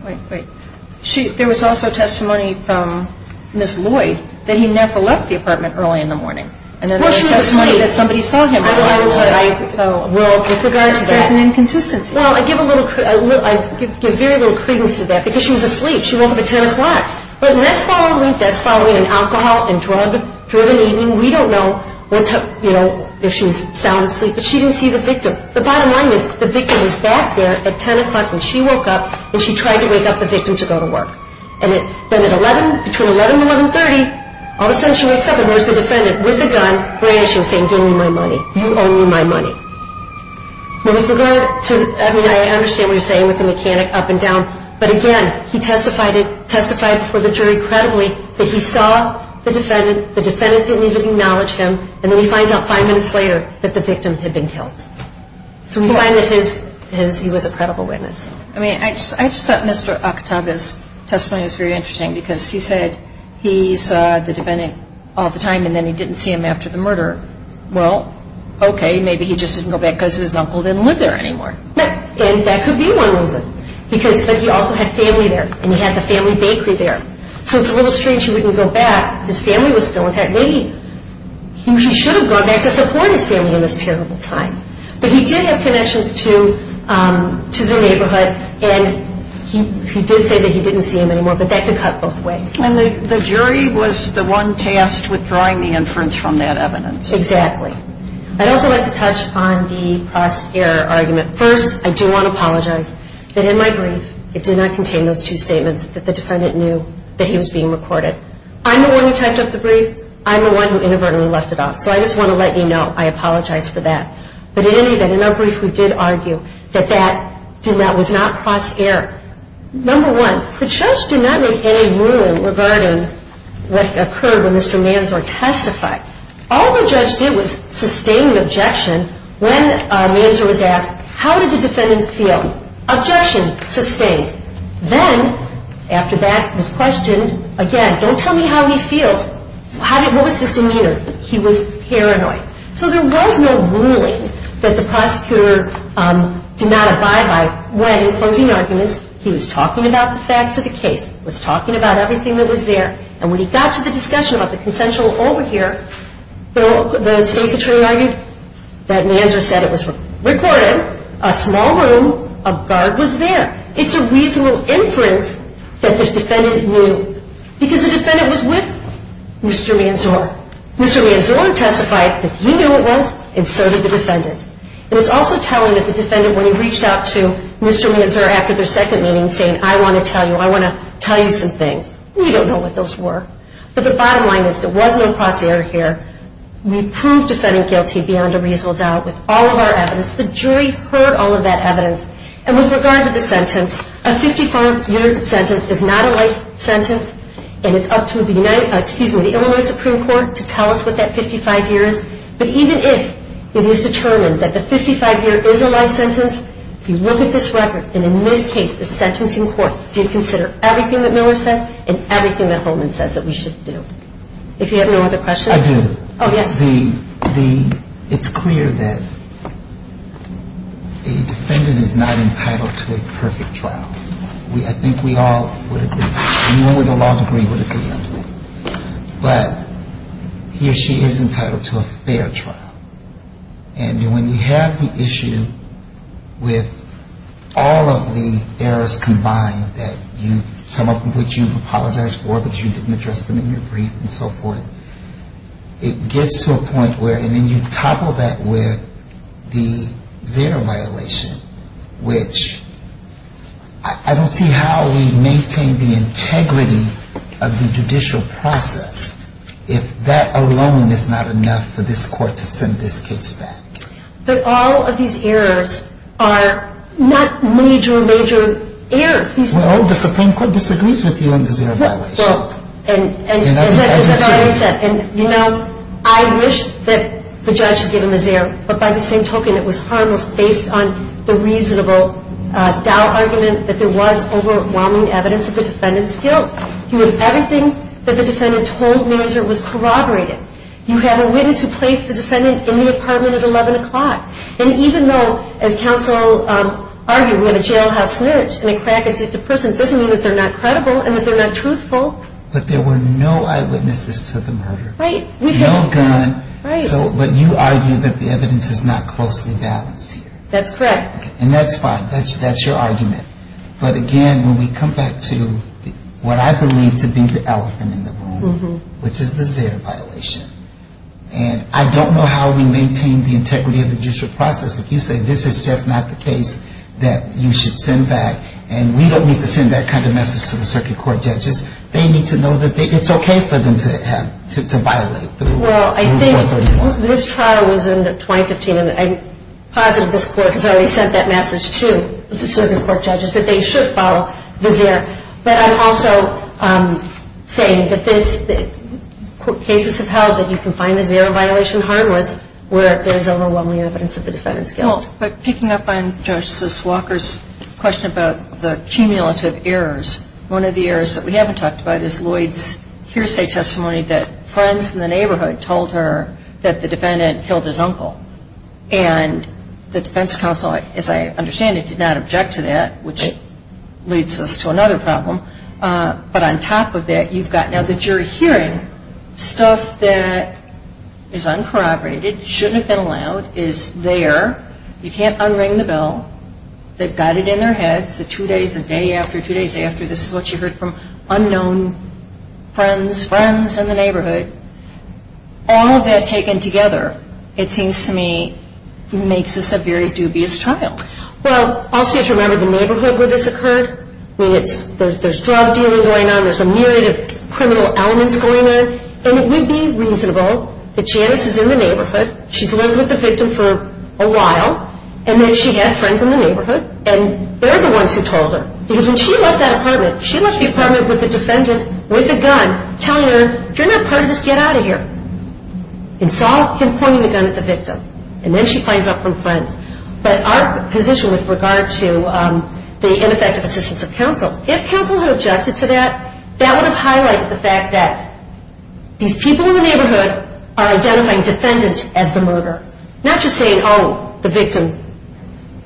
Wait, wait. There was also testimony from Ms. Lloyd that he never left the apartment early in the morning. Well, she was asleep. Somebody saw him. Well, with regard to that. There's an inconsistency. Well, I give very little credence to that. Because she was asleep. She woke up at 10 o'clock. But that's following an alcohol and drug-driven eating. We don't know if she's sound asleep. But she didn't see the victim. The bottom line is the victim was back there at 10 o'clock when she woke up and she tried to wake up the victim to go to work. And then at 11, between 11 and 1130, all of a sudden she wakes up and there's the defendant with the gun brandishing, saying, Give me my money. You owe me my money. But with regard to, I mean, I understand what you're saying with the mechanic up and down. But, again, he testified before the jury credibly that he saw the defendant. The defendant didn't even acknowledge him. And then he finds out five minutes later that the victim had been killed. So we find that he was a credible witness. I mean, I just thought Mr. Akataga's testimony was very interesting because he said he saw the defendant all the time and then he didn't see him after the murder. Well, okay, maybe he just didn't go back because his uncle didn't live there anymore. And that could be one reason. But he also had family there and he had the family bakery there. So it's a little strange he wouldn't go back. His family was still intact. Maybe he should have gone back to support his family in this terrible time. But he did have connections to the neighborhood. And he did say that he didn't see him anymore. But that could cut both ways. And the jury was the one tasked with drawing the inference from that evidence. Exactly. I'd also like to touch on the cross-error argument. First, I do want to apologize that in my brief it did not contain those two statements that the defendant knew that he was being recorded. I'm the one who typed up the brief. I'm the one who inadvertently left it off. So I just want to let you know I apologize for that. But in any event, in our brief we did argue that that was not cross-error. Number one, the judge did not make any ruling regarding what occurred when Mr. Manzor testified. All the judge did was sustain an objection when Manzor was asked, how did the defendant feel? Objection, sustained. Then, after that was questioned, again, don't tell me how he feels. What was his demeanor? He was paranoid. So there was no ruling that the prosecutor did not abide by when, in closing arguments, he was talking about the facts of the case, was talking about everything that was there. And when he got to the discussion about the consensual over here, the state's attorney argued that Manzor said it was recorded, a small room, a guard was there. It's a reasonable inference that the defendant knew because the defendant was with Mr. Manzor. Mr. Manzor testified that he knew it was and so did the defendant. And it's also telling that the defendant, when he reached out to Mr. Manzor after their second meeting, saying, I want to tell you, I want to tell you some things, we don't know what those were. But the bottom line is there was no cross-error here. We proved defendant guilty beyond a reasonable doubt with all of our evidence. The jury heard all of that evidence. And with regard to the sentence, a 54-year sentence is not a life sentence and it's up to the Illinois Supreme Court to tell us what that 55-year is. But even if it is determined that the 55-year is a life sentence, if you look at this record and in this case the sentencing court did consider everything that Miller says and everything that Holman says that we should do. If you have no other questions. I do. Oh, yes. It's clear that a defendant is not entitled to a perfect trial. I think we all would agree. Anyone with a law degree would agree. But he or she is entitled to a fair trial. And when you have the issue with all of the errors combined that you've, some of which you've apologized for but you didn't address them in your brief and so forth, it gets to a point where, and then you topple that with the zero violation, which I don't see how we maintain the integrity of the judicial process if that alone is not enough for this court to send this case back. But all of these errors are not major, major errors. Well, the Supreme Court disagrees with you on the zero violation. Well, and as I've already said, and, you know, I wish that the judge had given the zero, but by the same token it was harmless based on the reasonable doubt argument that there was overwhelming evidence that the defendant's guilt. You have everything that the defendant told me as it was corroborated. You have a witness who placed the defendant in the apartment at 11 o'clock. And even though, as counsel argued, when a jailhouse snitch and a crack addict to prison doesn't mean that they're not credible and that they're not truthful. But there were no eyewitnesses to the murder. Right. No gun. Right. But you argue that the evidence is not closely balanced here. That's correct. And that's fine. That's your argument. But again, when we come back to what I believe to be the elephant in the room, which is the zero violation, and I don't know how we maintain the integrity of the judicial process if you say this is just not the case that you should send back and we don't need to send that kind of message to the circuit court judges. They need to know that it's okay for them to violate the Rule 431. Well, I think this trial was in 2015, and I'm positive this Court has already sent that message to the circuit court judges that they should follow the zero. But I'm also saying that cases have held that you can find a zero violation harmless where there is overwhelming evidence of the defendant's guilt. Well, picking up on Justice Walker's question about the cumulative errors, one of the errors that we haven't talked about is Lloyd's hearsay testimony that friends in the neighborhood told her that the defendant killed his uncle. And the defense counsel, as I understand it, did not object to that, which leads us to another problem. But on top of that, you've got now the jury hearing stuff that is uncorroborated, shouldn't have been allowed, is there. You can't unring the bell. They've got it in their heads that two days a day after, two days after, this is what you heard from unknown friends, friends in the neighborhood. All of that taken together, it seems to me, makes this a very dubious trial. Well, also you have to remember the neighborhood where this occurred. I mean, there's drug dealing going on. There's a myriad of criminal elements going on. And it would be reasonable that Janice is in the neighborhood. She's lived with the victim for a while. And then she had friends in the neighborhood. And they're the ones who told her. Because when she left that apartment, she left the apartment with the defendant with a gun telling her, if you're not part of this, get out of here. And saw him pointing the gun at the victim. And then she finds out from friends. But our position with regard to the ineffective assistance of counsel, if counsel had objected to that, that would have highlighted the fact that these people in the neighborhood are identifying defendants as the murderer. Not just saying, oh, the victim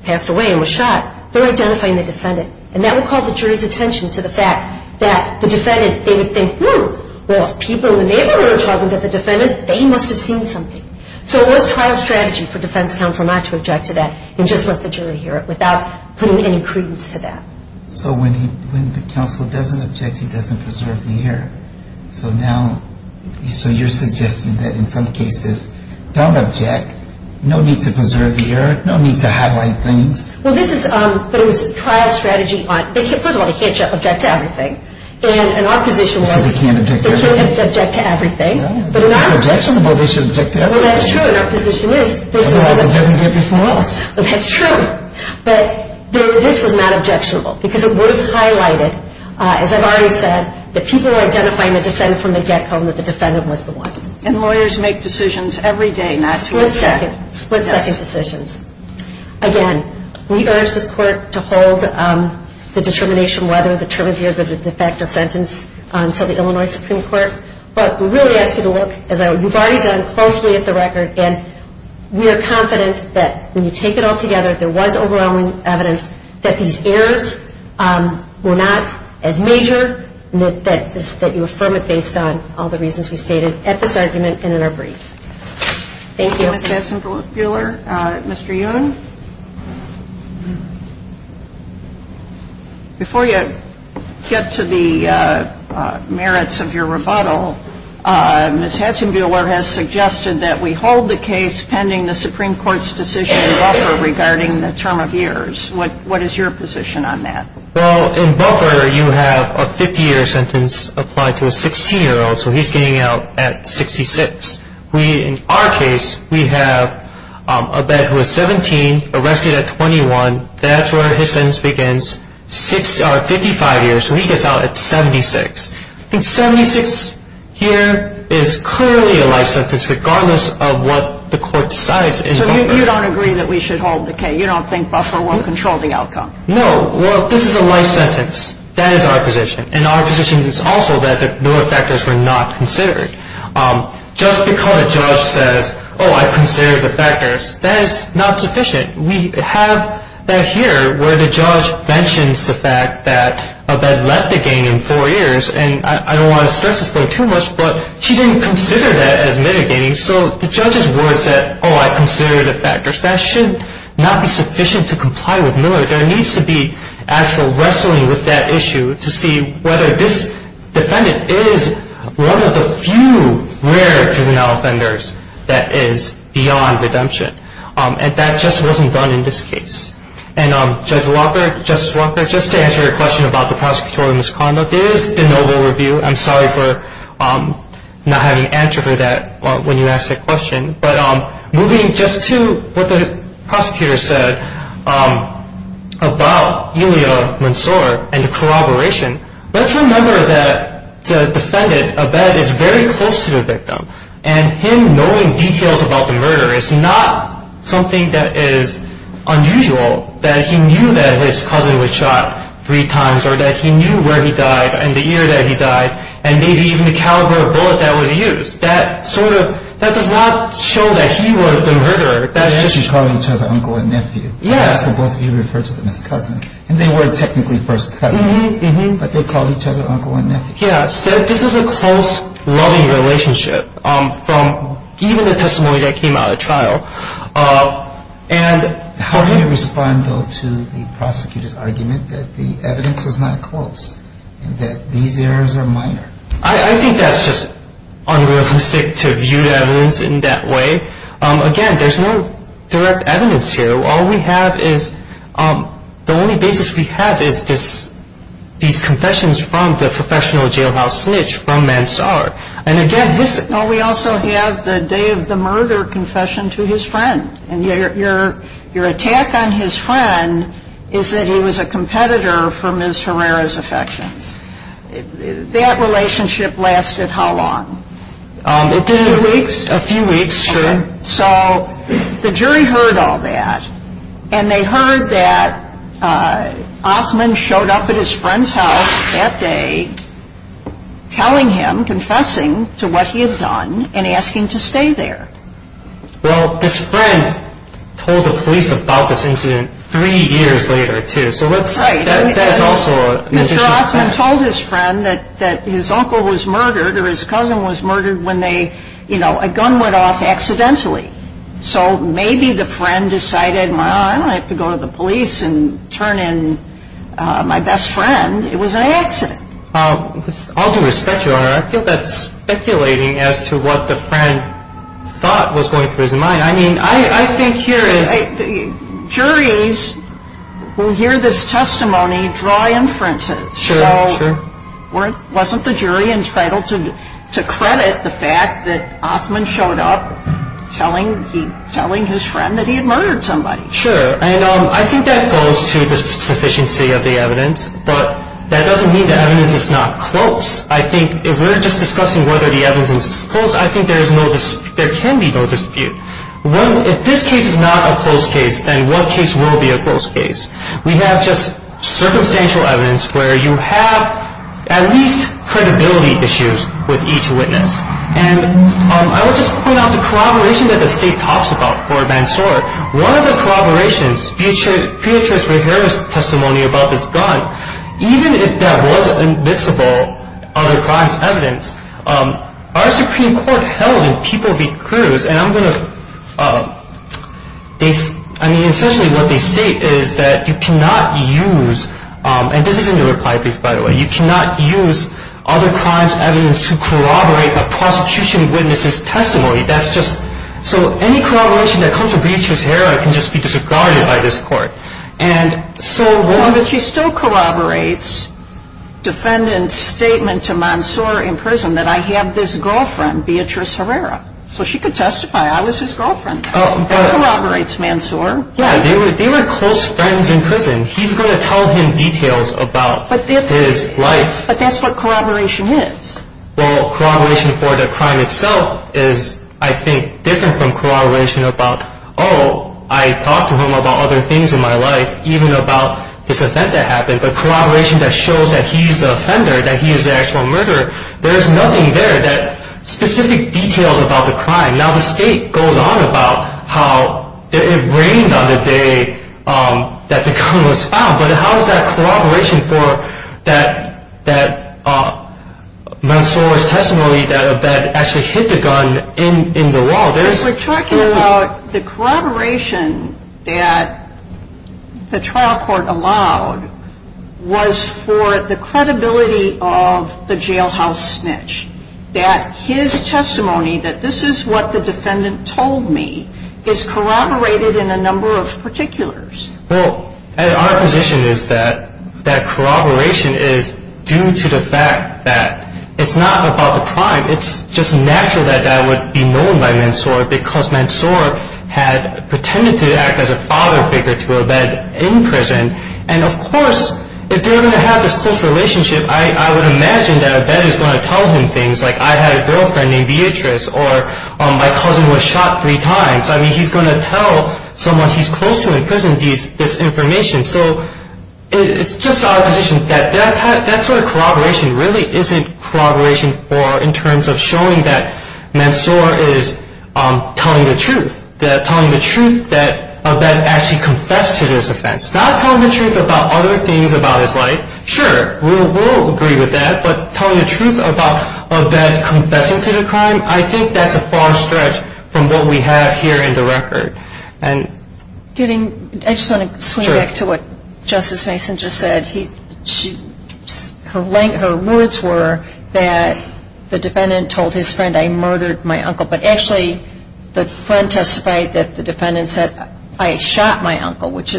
passed away and was shot. They're identifying the defendant. And that would call the jury's attention to the fact that the defendant, they would think, well, if people in the neighborhood are talking to the defendant, they must have seen something. So it was trial strategy for defense counsel not to object to that and just let the jury hear it without putting any credence to that. So when the counsel doesn't object, he doesn't preserve the error. So now, so you're suggesting that in some cases, don't object. No need to preserve the error. No need to highlight things. Well, this is, but it was trial strategy. First of all, they can't object to everything. And our position was, they can't object to everything. It's objectionable. They should object to everything. Well, that's true. And our position is. Otherwise it doesn't get before us. That's true. But this was not objectionable because it was highlighted, as I've already said, that people were identifying the defendant from the get-go and that the defendant was the one. And lawyers make decisions every day not to object. Split-second. Split-second decisions. Again, we urge this Court to hold the determination whether the term of years of a de facto sentence until the Illinois Supreme Court. But we really ask you to look, as you've already done, closely at the record. And we are confident that when you take it all together, there was overwhelming evidence that these errors were not as major, and that you affirm it based on all the reasons we stated at this argument and in our brief. Thank you. Thank you, Ms. Hatzenbuehler. Mr. Youn? Before you get to the merits of your rebuttal, Ms. Hatzenbuehler has suggested that we hold the case pending the Supreme Court's decision in Buffer regarding the term of years. What is your position on that? Well, in Buffer, you have a 50-year sentence applied to a 16-year-old, so he's getting out at 66. In our case, we have a bed who is 17, arrested at 21. That's where his sentence begins, 55 years, so he gets out at 76. And 76 here is clearly a life sentence, regardless of what the court decides in Buffer. So you don't agree that we should hold the case? You don't think Buffer will control the outcome? No. Well, this is a life sentence. That is our position. And our position is also that the newer factors were not considered. Just because a judge says, oh, I've considered the factors, that is not sufficient. We have that here where the judge mentions the fact that a bed left the gang in four years, and I don't want to stress this point too much, but she didn't consider that as mitigating. So the judge's words that, oh, I consider the factors, that should not be sufficient to comply with Miller. There needs to be actual wrestling with that issue to see whether this defendant is one of the few rare juvenile offenders that is beyond redemption. And that just wasn't done in this case. And, Judge Walker, Justice Walker, just to answer your question about the prosecutorial misconduct, it is de novo review. I'm sorry for not having an answer for that when you asked that question. But moving just to what the prosecutor said about Elia Munsoor and the corroboration, let's remember that the defendant, a bed, is very close to the victim, and him knowing details about the murder is not something that is unusual, that he knew that his cousin was shot three times, or that he knew where he died and the year that he died, and maybe even the caliber of bullet that was used. That sort of, that does not show that he was the murderer. They actually called each other uncle and nephew. Yes. So both of you referred to them as cousins. And they weren't technically first cousins, but they called each other uncle and nephew. Yes. This is a close, loving relationship from even the testimony that came out of the trial. How do you respond, though, to the prosecutor's argument that the evidence was not close, and that these errors are minor? I think that's just unrealistic to view evidence in that way. Again, there's no direct evidence here. All we have is, the only basis we have is these confessions from the professional jailhouse snitch from Mansard. And, again, this is... No, we also have the day of the murder confession to his friend. And your attack on his friend is that he was a competitor for Ms. Herrera's affections. That relationship lasted how long? It did a few weeks. A few weeks, sure. So the jury heard all that. And they heard that Offman showed up at his friend's house that day telling him, confessing to what he had done, and asking to stay there. Well, his friend told the police about this incident three years later, too. So that's also... Mr. Offman told his friend that his uncle was murdered, or his cousin was murdered, when a gun went off accidentally. So maybe the friend decided, well, I don't have to go to the police and turn in my best friend. It was an accident. With all due respect, Your Honor, I feel that's speculating as to what the friend thought was going through his mind. I mean, I think here is... Juries who hear this testimony draw inferences. Sure, sure. Wasn't the jury entitled to credit the fact that Offman showed up telling his friend that he had murdered somebody? Sure. And I think that goes to the sufficiency of the evidence. But that doesn't mean the evidence is not close. I think if we're just discussing whether the evidence is close, I think there can be no dispute. If this case is not a close case, then what case will be a close case? We have just circumstantial evidence where you have at least credibility issues with each witness. And I will just point out the corroboration that the State talks about for Mansour. One of the corroborations, Beatrice Rehara's testimony about this gun, even if that was admissible other crimes evidence, our Supreme Court held in People v. Cruz, and essentially what they state is that you cannot use, and this is in your reply brief by the way, you cannot use other crimes evidence to corroborate a prosecution witness's testimony. So any corroboration that comes from Beatrice Rehara can just be disregarded by this Court. But she still corroborates defendant's statement to Mansour in prison that I have this girlfriend, Beatrice Rehara. So she could testify I was his girlfriend. That corroborates Mansour. Yeah, they were close friends in prison. He's going to tell him details about his life. But that's what corroboration is. Well, corroboration for the crime itself is, I think, different from corroboration about, oh, I talked to him about other things in my life, even about this event that happened. But corroboration that shows that he's the offender, that he's the actual murderer, there's nothing there that specific details about the crime. Now the state goes on about how it rained on the day that the gun was found. But how is that corroboration for that Mansour's testimony that actually hit the gun in the wall? We're talking about the corroboration that the trial court allowed was for the credibility of the jailhouse snitch. That his testimony, that this is what the defendant told me, is corroborated in a number of particulars. Well, our position is that that corroboration is due to the fact that it's not about the crime. It's just natural that that would be known by Mansour, because Mansour had pretended to act as a father figure to Abed in prison. And, of course, if they were going to have this close relationship, I would imagine that Abed is going to tell him things like, I had a girlfriend named Beatrice, or my cousin was shot three times. I mean, he's going to tell someone he's close to in prison this information. So it's just our position that that sort of corroboration really isn't corroboration in terms of showing that Mansour is telling the truth, telling the truth that Abed actually confessed to this offense. Not telling the truth about other things about his life. Sure, we'll agree with that, but telling the truth about Abed confessing to the crime, I think that's a far stretch from what we have here in the record. I just want to swing back to what Justice Mason just said. Her words were that the defendant told his friend, I murdered my uncle. But actually the friend testified that the defendant said, I shot my uncle, which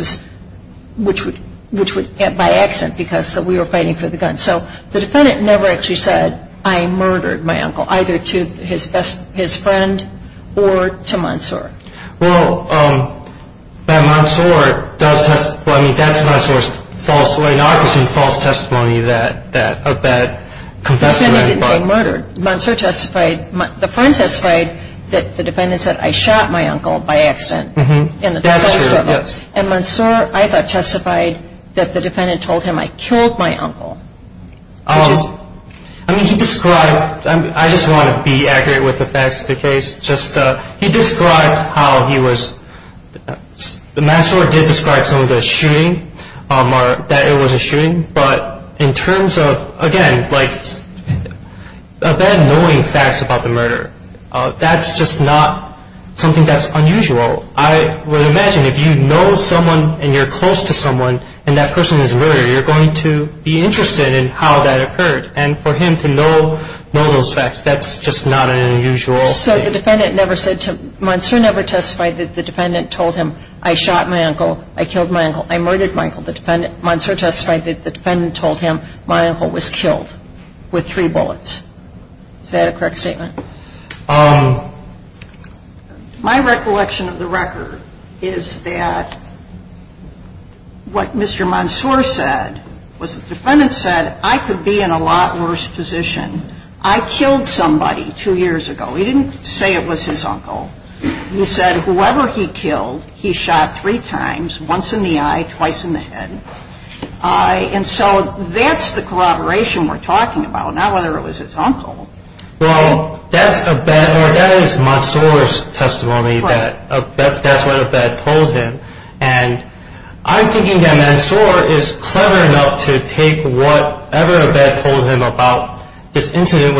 would get by accident because we were fighting for the gun. So the defendant never actually said, I murdered my uncle, either to his friend or to Mansour. Well, but Mansour does testify, I mean, that's Mansour's false testimony. Now, I presume false testimony that Abed confessed to any crime. He said he didn't say murdered. Mansour testified, the friend testified that the defendant said, I shot my uncle by accident. That's true, yes. And Mansour, I thought, testified that the defendant told him, I killed my uncle. I mean, he described, I just want to be accurate with the facts of the case. He described how he was, Mansour did describe some of the shooting, that it was a shooting. But in terms of, again, Abed knowing facts about the murder, that's just not something that's unusual. I would imagine if you know someone and you're close to someone and that person is murdered, you're going to be interested in how that occurred. And for him to know those facts, that's just not an unusual thing. So the defendant never said to, Mansour never testified that the defendant told him, I shot my uncle. I killed my uncle. I murdered my uncle. Mansour testified that the defendant told him my uncle was killed with three bullets. Is that a correct statement? My recollection of the record is that what Mr. Mansour said was the defendant said, I could be in a lot worse position. I killed somebody two years ago. He didn't say it was his uncle. He said whoever he killed, he shot three times, once in the eye, twice in the head. And so that's the corroboration we're talking about, not whether it was his uncle. Well, that is Mansour's testimony that that's what Abed told him. And I'm thinking that Mansour is clever enough to take whatever Abed told him about this incident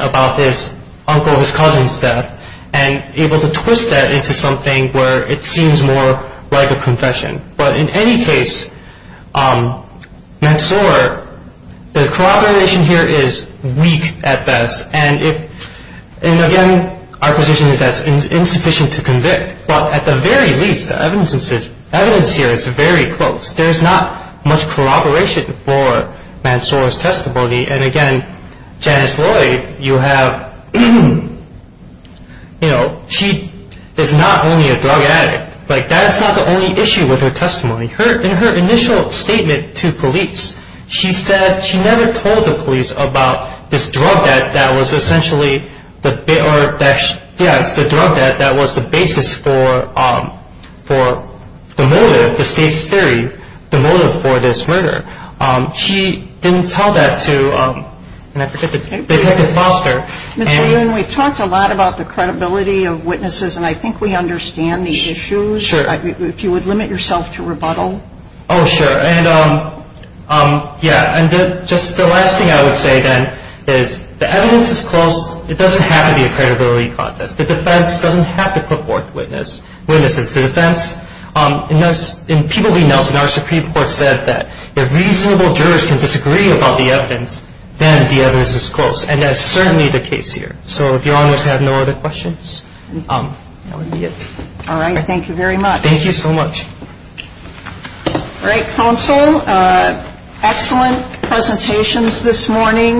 about this uncle, his cousin's death, and able to twist that into something where it seems more like a confession. But in any case, Mansour, the corroboration here is weak at best. And, again, our position is that it's insufficient to convict. But at the very least, the evidence here is very close. There's not much corroboration for Mansour's testimony. And, again, Janice Lloyd, you have, you know, she is not only a drug addict. Like, that's not the only issue with her testimony. In her initial statement to police, she said she never told the police about this drug debt that was essentially the basis for the motive, the state's theory, the motive for this murder. She didn't tell that to, and I forget, Detective Foster. Ms. Maroon, we've talked a lot about the credibility of witnesses, and I think we understand the issues. Sure. If you would limit yourself to rebuttal. Oh, sure. And, yeah, and just the last thing I would say, then, is the evidence is close. It doesn't have to be a credibility contest. The defense doesn't have to put forth witnesses. The defense, in people we know, in our Supreme Court, said that if reasonable jurors can disagree about the evidence, then the evidence is close, and that is certainly the case here. So, if Your Honors have no other questions, that would be it. All right. Thank you very much. Thank you so much. All right, counsel, excellent presentations this morning.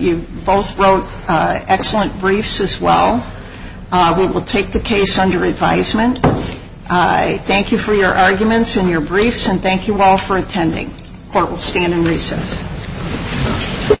You both wrote excellent briefs as well. We will take the case under advisement. Thank you for your arguments and your briefs, and thank you all for attending. Court will stand in recess.